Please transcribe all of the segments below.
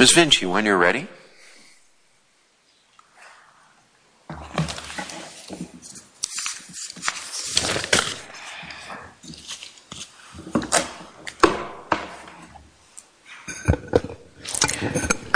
Ms. Vinci, when you're ready. Good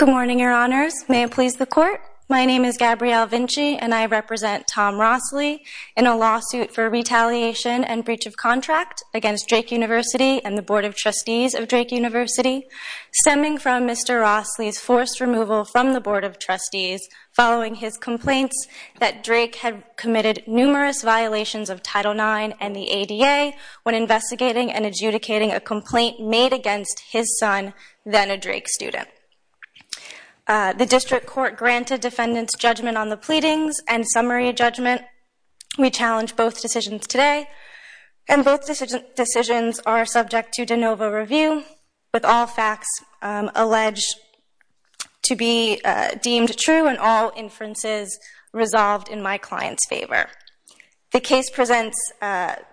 morning, your honors. May it please the court, my name is Gabrielle Vinci and I represent Tom Rossley in a lawsuit for retaliation and breach of contract against Drake University and the Board of Trustees of Drake University, stemming from Mr. Rossley's forced removal from the Board of Trustees following his complaints that Drake had committed numerous violations of Title IX and the ADA when investigating and adjudicating a complaint made against his son, then a Drake student. The district court granted defendants judgment on the pleadings and summary judgment. We challenge both decisions today and both decisions are subject to de novo review with all facts alleged to be deemed true and all inferences resolved in my client's favor. The case presents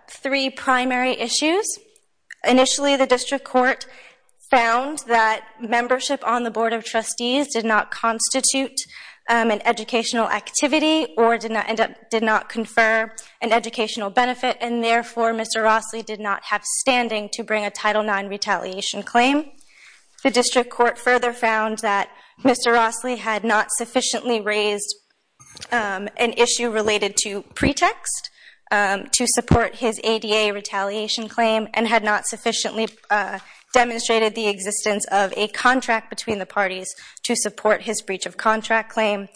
three primary issues. Initially the district court found that membership on the Board of Trustees did not constitute an educational activity or did not confer an educational benefit and therefore Mr. Rossley did not have standing to bring a Title IX retaliation claim. The district court further found that Mr. Rossley had not sufficiently raised an issue related to pretext to support his ADA retaliation claim and had not sufficiently demonstrated the existence of a contract between the parties to support his breach of contract claim.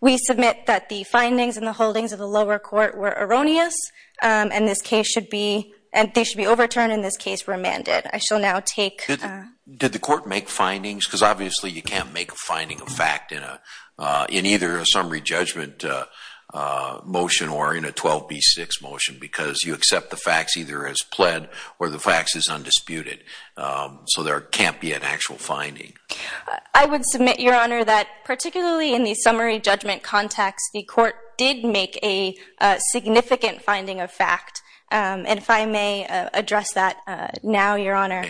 We submit that the findings and the holdings of the lower court were erroneous and they should be overturned and in this case remanded. Did the court make findings? Because obviously you can't make a finding of fact in either a summary judgment motion or in a 12B6 motion because you accept the facts either as pled or the facts as undisputed. So there can't be an actual finding. I would submit, Your Honor, that particularly in the summary judgment context the court did make a significant finding of fact and if I may address that now, Your Honor.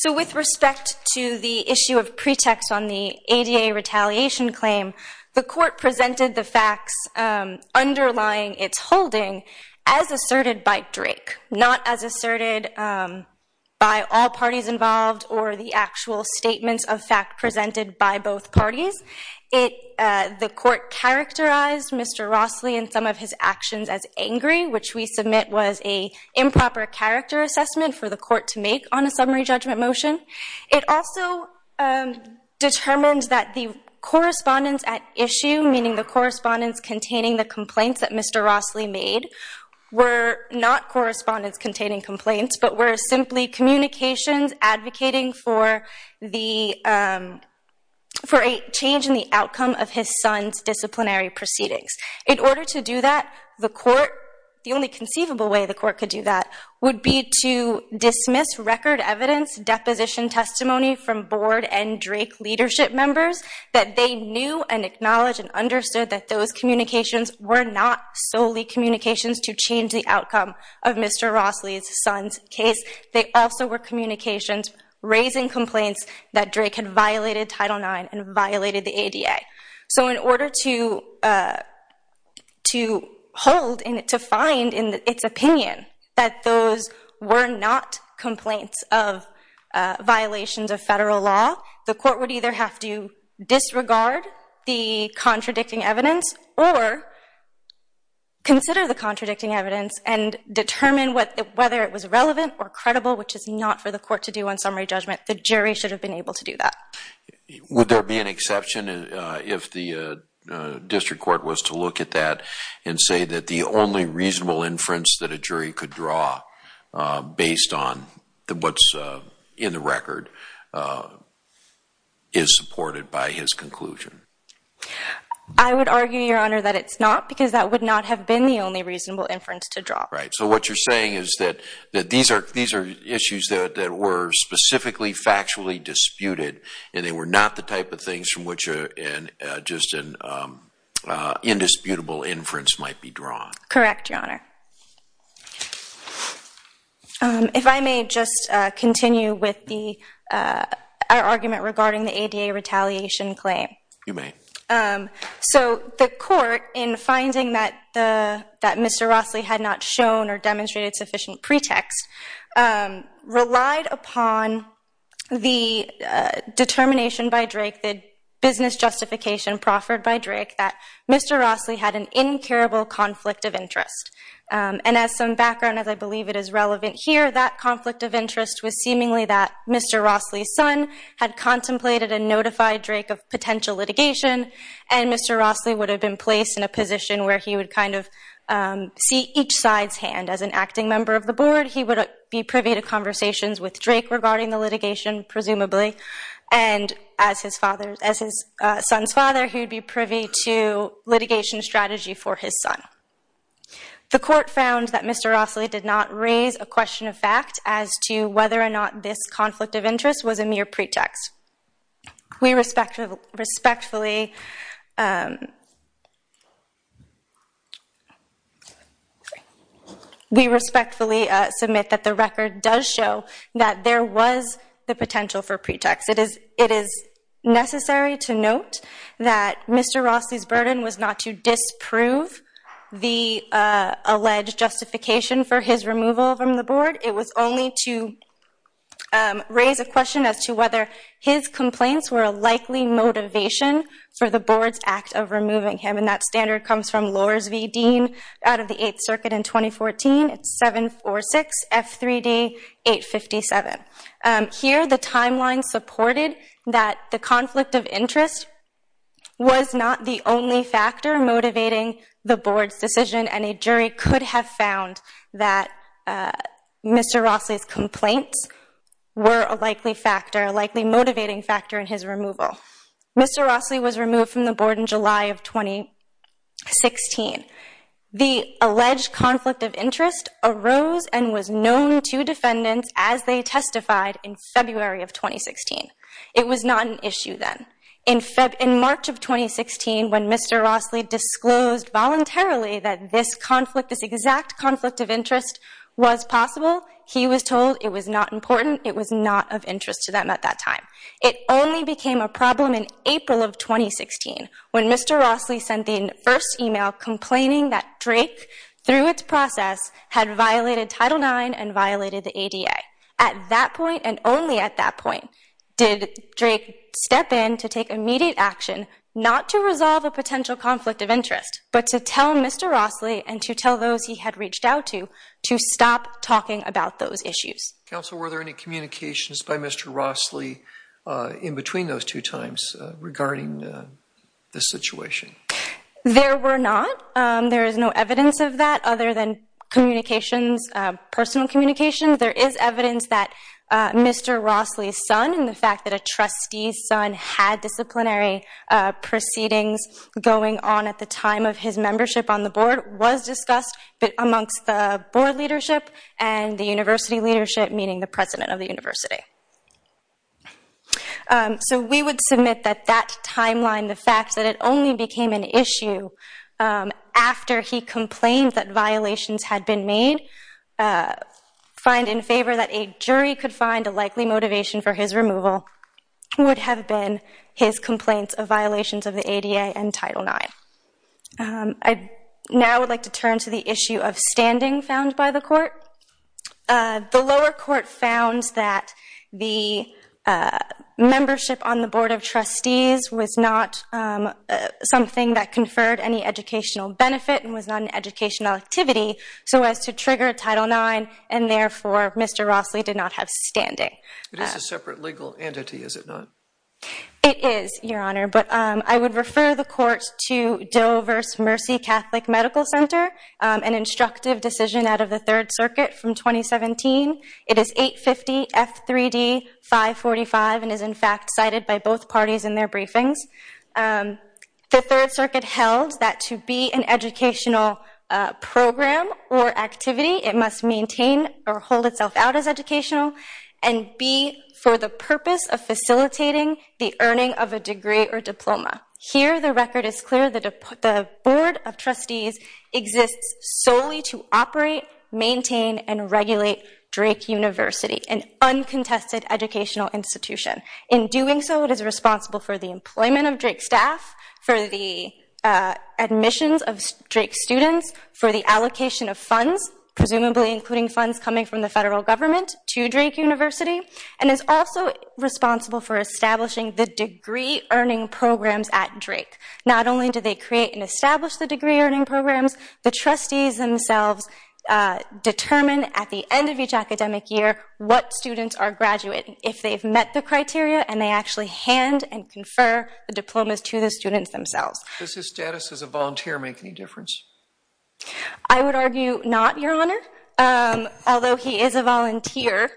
So with respect to the issue of pretext on the ADA retaliation claim, the court presented the facts underlying its holding as asserted by Drake, not as asserted by all parties involved or the actual statements of fact presented by both parties. The court characterized Mr. Rossley and some of his actions as angry, which we submit was a improper character assessment for the court to make on a summary judgment motion. It also determines that the correspondence at issue, meaning the correspondence containing the complaints that Mr. Rossley made, were not correspondence containing complaints but were simply communications advocating for a change in the outcome of his son's disciplinary proceedings. In order to do that, the court, the only conceivable way the court could do that would be to dismiss record evidence, deposition testimony from board and Drake leadership members that they knew and acknowledged and understood that those communications were not solely communications to change the outcome of Mr. Rossley's son's case. They also were communications raising complaints that Drake had violated Title IX and violated the ADA. So in order to hold and to find in its opinion that those were not complaints of violations of federal law, the court would either have to disregard the contradicting evidence or consider the contradicting evidence and determine whether it was relevant or credible, which is not for the court to do on summary judgment. The jury should have been able to do that. Would there be an exception if the district court was to look at that and say that the only reasonable inference that a jury could draw based on what's in the record is supported by his conclusion? I would argue, Your Honor, that it's not because that would not have been the only reasonable inference to draw. Right. So what you're saying is that these are issues that were specifically factually disputed and they were not the type of things from which just an indisputable inference might be drawn. Correct, Your Honor. If I may just continue with our argument regarding the ADA retaliation claim. You may. So the court, in finding that Mr. Rossley had not shown or demonstrated sufficient pretext, relied upon the determination by Drake, the business justification proffered by Drake, that Mr. Rossley had an incurable conflict of interest. And as some background, as I believe it is relevant here, that conflict of interest was seemingly that Mr. Rossley's son had contemplated and notified Drake of potential litigation and Mr. Rossley would have been placed in a position where he would kind of see each side's hand. And as an acting member of the board, he would be privy to conversations with Drake regarding the litigation, presumably. And as his son's father, he would be privy to litigation strategy for his son. The court found that Mr. Rossley did not raise a question of fact as to whether or not this conflict of interest was a mere pretext. We respectfully submit that the record does show that there was the potential for pretext. It is necessary to note that Mr. Rossley's burden was not to disprove the alleged justification for his removal from the board. It was only to raise a question as to whether his complaints were a likely motivation for the board's act of removing him. And that standard comes from Lors v. Dean out of the 8th Circuit in 2014. It's 746 F3D 857. Here the timeline supported that the conflict of interest was not the only factor motivating the board's decision. And a jury could have found that Mr. Rossley's complaints were a likely factor, a likely motivating factor in his removal. Mr. Rossley was removed from the board in July of 2016. The alleged conflict of interest arose and was known to defendants as they testified in February of 2016. It was not an issue then. In March of 2016, when Mr. Rossley disclosed voluntarily that this conflict, this exact conflict of interest was possible, he was told it was not important, it was not of interest to them at that time. It only became a problem in April of 2016 when Mr. Rossley sent the first email complaining that Drake, through its process, had violated Title IX and violated the ADA. At that point, and only at that point, did Drake step in to take immediate action, not to resolve a potential conflict of interest, but to tell Mr. Rossley and to tell those he had reached out to, to stop talking about those issues. Counsel, were there any communications by Mr. Rossley in between those two times regarding the situation? There were not. There is no evidence of that other than communications, personal communications. There is evidence that Mr. Rossley's son and the fact that a trustee's son had disciplinary proceedings going on at the time of his membership on the board was discussed amongst the board leadership and the university leadership, meaning the president of the university. So we would submit that that timeline, the fact that it only became an issue after he complained that violations had been made, find in favor that a jury could find a likely motivation for his removal, would have been his complaints of violations of the ADA and Title IX. I now would like to turn to the issue of standing found by the court. The lower court found that the membership on the board of trustees was not something that conferred any educational benefit and was not an educational activity so as to trigger Title IX and therefore Mr. Rossley did not have standing. It is a separate legal entity, is it not? It is, Your Honor, but I would refer the court to Doe versus Mercy Catholic Medical Center, an instructive decision out of the Third Circuit from 2017. It is 850 F3D 545 and is in fact cited by both parties in their briefings. The Third Circuit held that to be an educational program or activity, it must maintain or hold itself out as educational and be for the purpose of facilitating the earning of a degree or diploma. Here, the record is clear that the board of trustees exists solely to operate, maintain, and regulate Drake University, an uncontested educational institution. In doing so, it is responsible for the employment of Drake staff, for the admissions of Drake students, for the allocation of funds, presumably including funds coming from the federal government to Drake University, and is also responsible for establishing the degree-earning programs at Drake. Not only do they create and establish the degree-earning programs, the trustees themselves determine at the end of each academic year what students are graduating. If they've met the criteria and they actually hand and confer the diplomas to the students themselves. Does his status as a volunteer make any difference? I would argue not, your honor. Although he is a volunteer,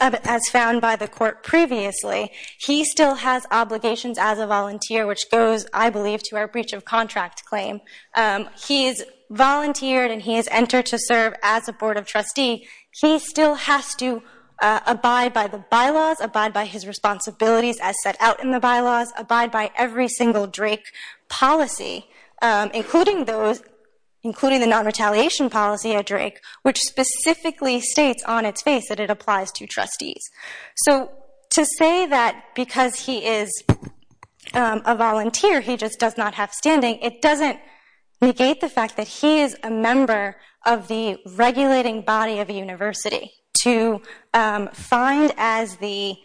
as found by the court previously, he still has obligations as a volunteer, which goes, I believe, to our breach of contract claim. He's volunteered and he has entered to serve as a board of trustee. He still has to abide by the bylaws, abide by his responsibilities as set out in the bylaws, abide by every single Drake policy, including the non-retaliation policy at Drake, which specifically states on its face that it applies to trustees. So to say that because he is a volunteer, he just does not have standing, it doesn't negate the fact that he is a member of the regulating body of a university. To find, as the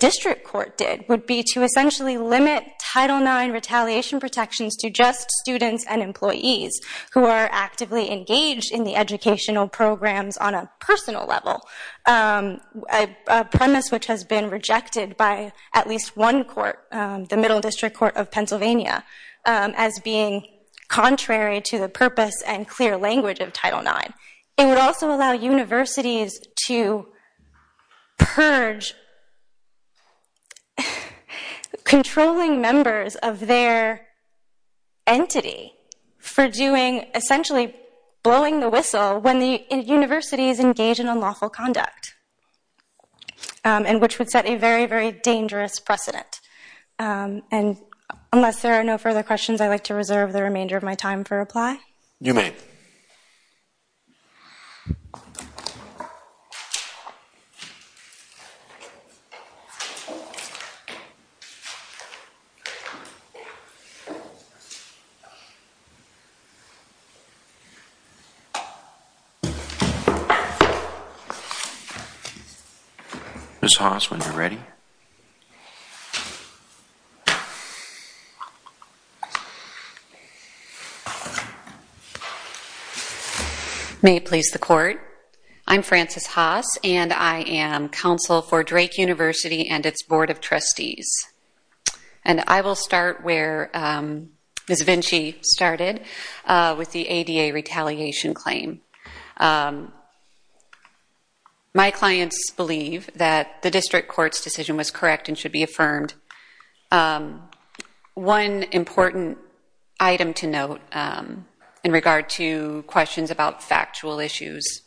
district court did, would be to essentially limit Title IX retaliation protections to just students and employees who are actively engaged in the educational programs on a personal level. A premise which has been rejected by at least one court, the Middle District Court of Pennsylvania, as being contrary to the purpose and clear language of Title IX. It would also allow universities to purge controlling members of their entity for doing, essentially blowing the whistle when the universities engage in unlawful conduct, and which would set a very, very dangerous precedent. And unless there are no further questions, I'd like to reserve the remainder of my time for reply. You may. Ms. Haas, when you're ready. May it please the court. I'm Frances Haas, and I am counsel for Drake University and its board of trustees. And I will start where Ms. Vinci started, with the ADA retaliation claim. My clients believe that the district court's decision was correct and should be affirmed. One important item to note in regard to questions about factual issues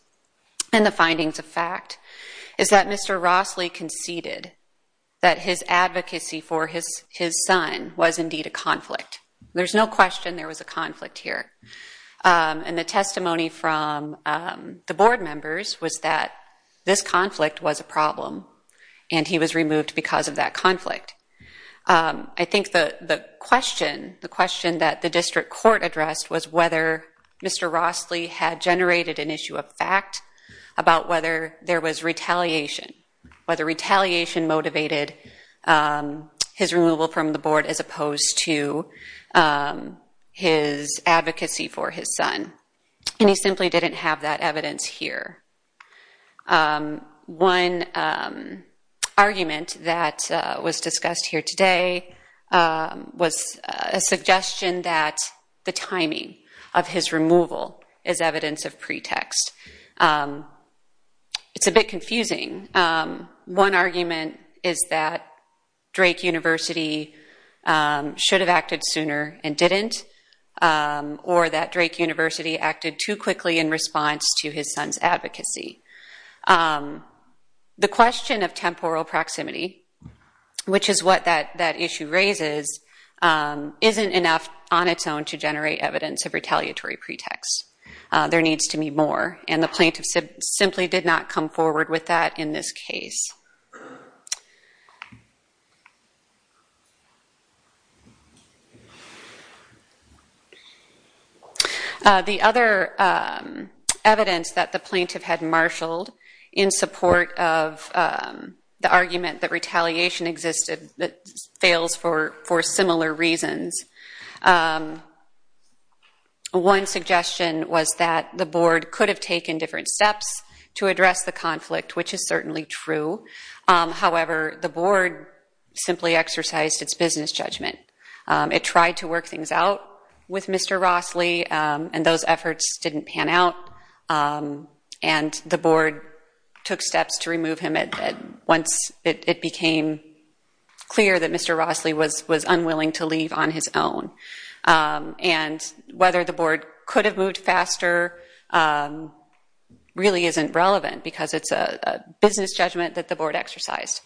and the findings of fact, is that Mr. Rossley conceded that his advocacy for his son was indeed a conflict. There's no question there was a conflict here. And the testimony from the board members was that this conflict was a problem, and he was removed because of that conflict. I think the question, the question that the district court addressed was whether Mr. Rossley had generated an issue of fact about whether there was retaliation, whether retaliation motivated his removal from the board as opposed to his advocacy for his son. And he simply didn't have that evidence here. One argument that was discussed here today was a suggestion that the timing of his removal is evidence of pretext. It's a bit confusing. One argument is that Drake University should have acted sooner and didn't, or that Drake University acted too quickly in response to his son's advocacy. The question of temporal proximity, which is what that issue raises, isn't enough on its own to generate evidence of retaliatory pretext. There needs to be more, and the plaintiff simply did not come forward with that in this case. The other evidence that the plaintiff had marshaled in support of the argument that retaliation existed fails for similar reasons. One suggestion was that the board could have taken different steps to address the conflict, which is certainly true. However, the board simply exercised its business judgment. It tried to work things out with Mr. Rossley, and those efforts didn't pan out. And the board took steps to remove him once it became clear that Mr. Rossley was unwilling to leave on his own. And whether the board could have moved faster really isn't relevant, because it's a business judgment that the board exercised.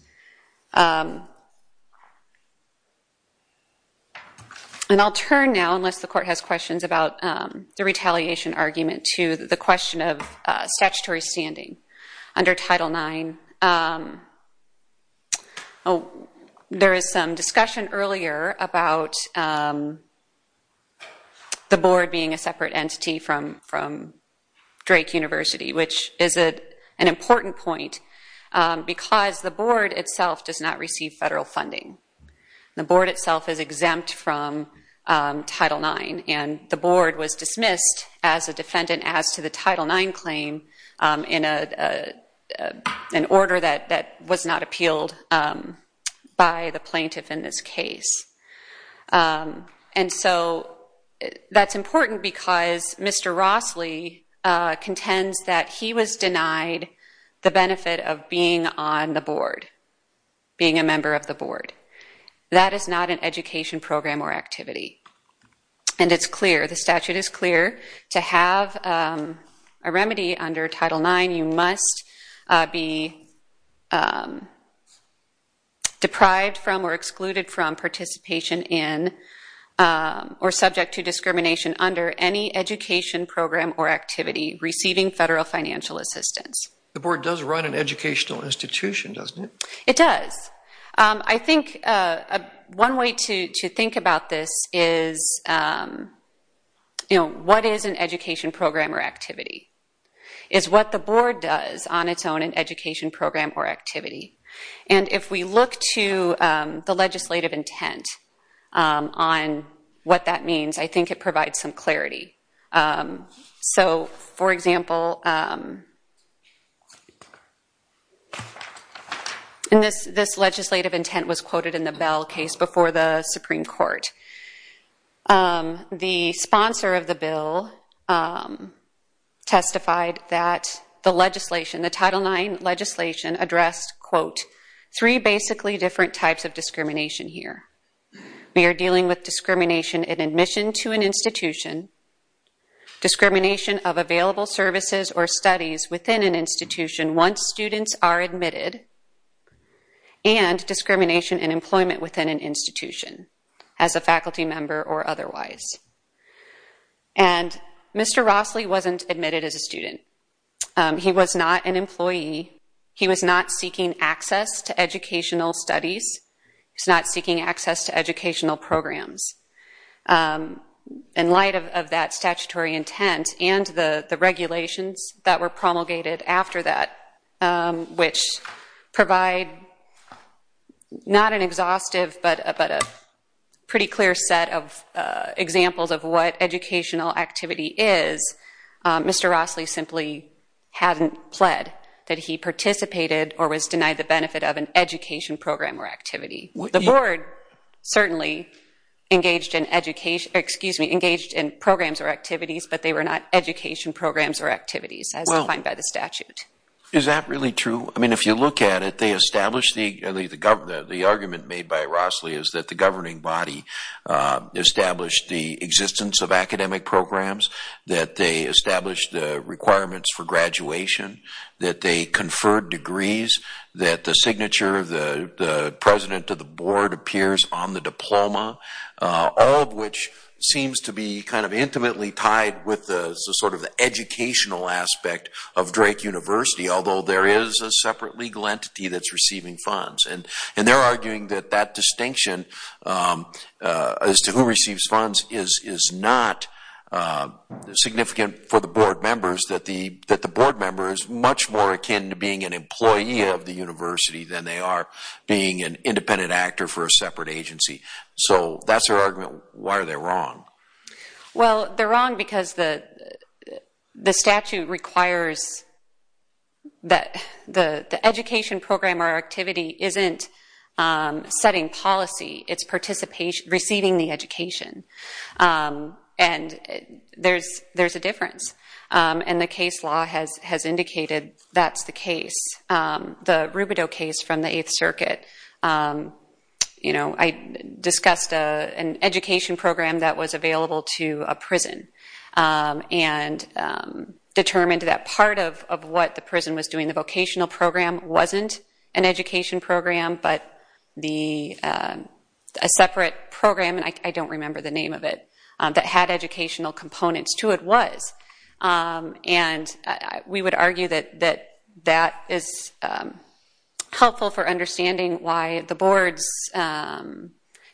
And I'll turn now, unless the court has questions about the retaliation argument, to the question of statutory standing under Title IX. Oh, there is some discussion earlier about the board being a separate entity from Drake University, which is an important point, because the board itself does not receive federal funding. The board itself is exempt from Title IX, and the board was dismissed as a defendant as to the Title IX claim in an order that was not appealed by the plaintiff in this case. And so that's important because Mr. Rossley contends that he was denied the benefit of being on the board, being a member of the board. That is not an education program or activity. And it's clear, the statute is clear to have a remedy under Title IX. You must be deprived from or excluded from participation in or subject to discrimination under any education program or activity receiving federal financial assistance. The board does run an educational institution, doesn't it? It does. I think one way to think about this is, you know, what is an education program or activity? Is what the board does on its own an education program or activity? And if we look to the legislative intent on what that means, I think it provides some clarity. So, for example, and this legislative intent was quoted in the Bell case before the Supreme Court. The sponsor of the bill testified that the legislation, the Title IX legislation addressed, quote, three basically different types of discrimination here. We are dealing with discrimination in admission to an institution, discrimination of available services or studies within an institution once students are admitted, and discrimination in employment within an institution as a faculty member or otherwise. And Mr. Rossley wasn't admitted as a student. He was not an employee. He was not seeking access to educational studies. He's not seeking access to educational programs. In light of that statutory intent and the regulations that were promulgated after that, which provide not an exhaustive but a pretty clear set of examples of what educational activity is, Mr. Rossley simply hadn't pled that he participated or was denied the benefit of an education program or activity. The board certainly engaged in education, excuse me, engaged in programs or activities, but they were not education programs or activities as defined by the statute. Is that really true? I mean, if you look at it, they established the argument made by Rossley is that the governing body established the existence of academic programs, that they established the requirements for graduation, that they conferred degrees, that the signature of the president of the board appears on the diploma, all of which seems to be kind of intimately tied with the sort of the educational aspect of Drake University, although there is a separate legal entity that's receiving funds. And they're arguing that that distinction as to who receives funds is not significant for the board members, that the board member is much more akin to being an employee of the university than they are being an independent actor for a separate agency. So that's their argument. Why are they wrong? Well, they're wrong because the statute requires that the education program or activity isn't setting policy, it's receiving the education. And there's a difference. And the case law has indicated that's the case. The Rubidoux case from the Eighth Circuit, you know, I discussed an education program that was available to a prison and determined that part of what the prison was doing, the vocational program, wasn't an education program, but a separate program, and I don't remember the name of it, that had educational components to it, but it was. And we would argue that that is helpful for understanding why the board's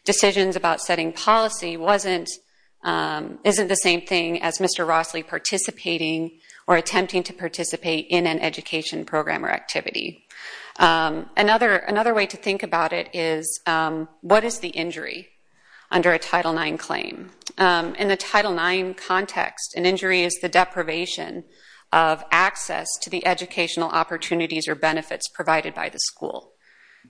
decisions about setting policy isn't the same thing as Mr. Rossley participating or attempting to participate in an education program or activity. Another way to think about it is, what is the injury under a Title IX claim? In the Title IX context, an injury is the deprivation of access to the educational opportunities or benefits provided by the school.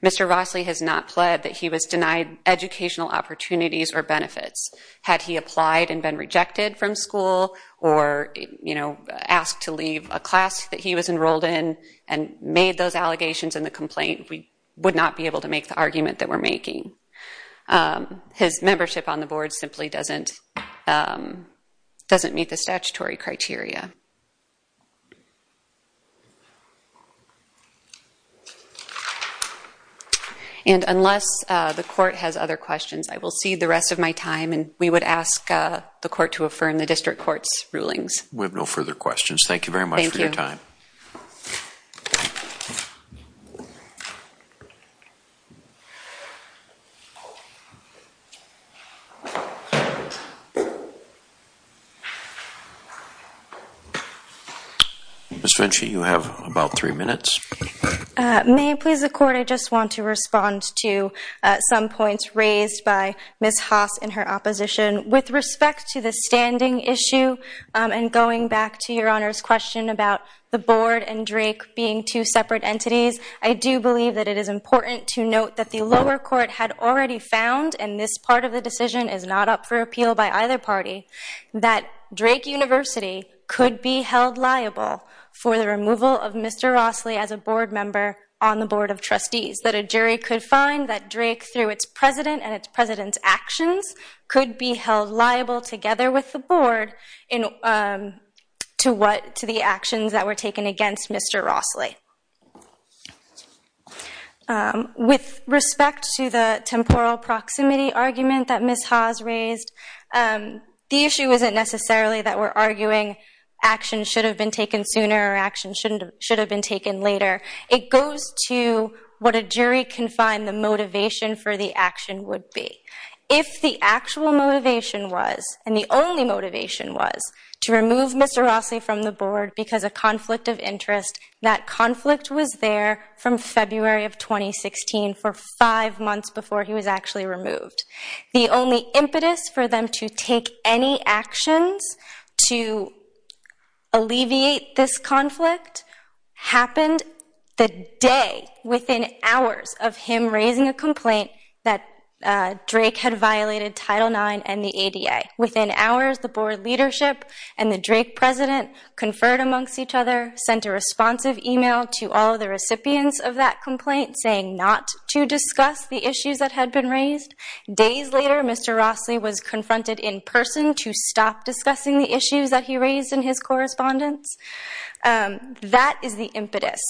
Mr. Rossley has not pled that he was denied educational opportunities or benefits. Had he applied and been rejected from school or, you know, asked to leave a class that he was enrolled in and made those allegations in the complaint, we would not be able to make the argument that we're making. His membership on the board simply doesn't meet the statutory criteria. And unless the court has other questions, I will cede the rest of my time, and we would ask the court to affirm the district court's rulings. We have no further questions. Thank you very much for your time. Ms. Finchie, you have about three minutes. May it please the court, I just want to respond to some points raised by Ms. Haas and her opposition. With respect to the standing issue and going back to your Honor's question about the board and Drake being two separate entities, I do believe that it is important to note that the lower court had already made a statement in the past and this part of the decision is not up for appeal by either party, that Drake University could be held liable for the removal of Mr. Rossley as a board member on the board of trustees, that a jury could find that Drake, through its president and its president's actions, could be held liable together with the board to the actions that were taken against Mr. Rossley. With respect to the temporal proximity argument that Ms. Haas raised, the issue isn't necessarily that we're arguing actions should have been taken sooner or actions should have been taken later. It goes to what a jury can find the motivation for the action would be. If the actual motivation was, and the only motivation was, to remove Mr. Rossley from the board because of conflict of interest, that conflict was there from February of 2016 for five months before he was actually removed. The only impetus for them to take any actions to alleviate this conflict happened the day within hours of him raising a complaint that Drake had violated Title IX and the ADA. Within hours, the board leadership and the Drake president conferred amongst each other, sent a responsive email to all the recipients of that complaint saying not to discuss the issues that had been raised. Days later, Mr. Rossley was confronted in person to stop discussing the issues that he raised in his correspondence. That is the impetus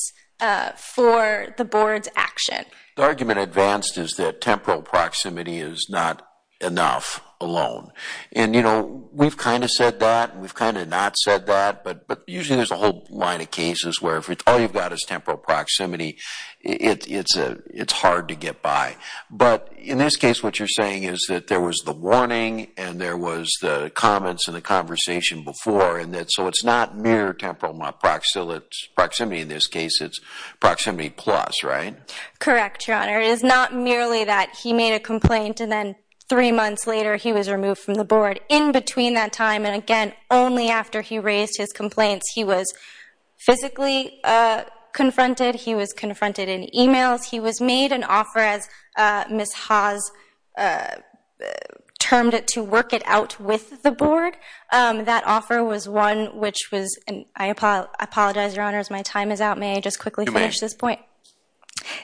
for the board's action. The argument advanced is that temporal proximity is not enough alone. And, you know, we've kind of said that and we've kind of not said that, but usually there's a whole line of cases where if all you've got is temporal proximity, it's hard to get by. But in this case, what you're saying is that there was the warning and there was the comments and the conversation before, and so it's not mere temporal proximity. In this case, it's proximity plus, right? Correct, Your Honor. It is not merely that he made a complaint and then three months later, he was removed from the board. In between that time, and again, only after he raised his complaints, he was physically confronted. He was confronted in emails. He was made an offer, as Ms. Haas termed it, to work it out with the board. That offer was one which was, and I apologize, Your Honors, my time is out. May I just quickly finish this point?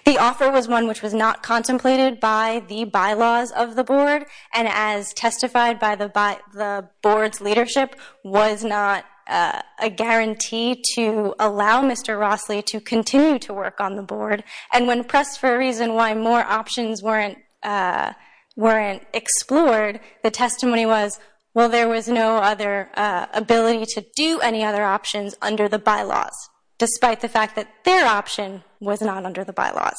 The offer was one which was not contemplated by the bylaws of the board and as testified by the board's leadership, was not a guarantee to allow Mr. Rossley to continue to work on the board. And when pressed for a reason why more options weren't explored, the testimony was, well, there was no other ability to do any other options under the bylaws, despite the fact that their option was not under the bylaws.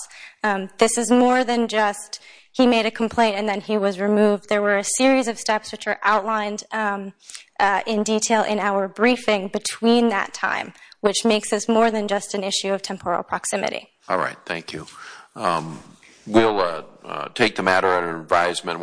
This is more than just he made a complaint and then he was removed. There were a series of steps which are outlined in detail in our briefing between that time, which makes this more than just an issue of temporal proximity. All right, thank you. We'll take the matter at an advisement.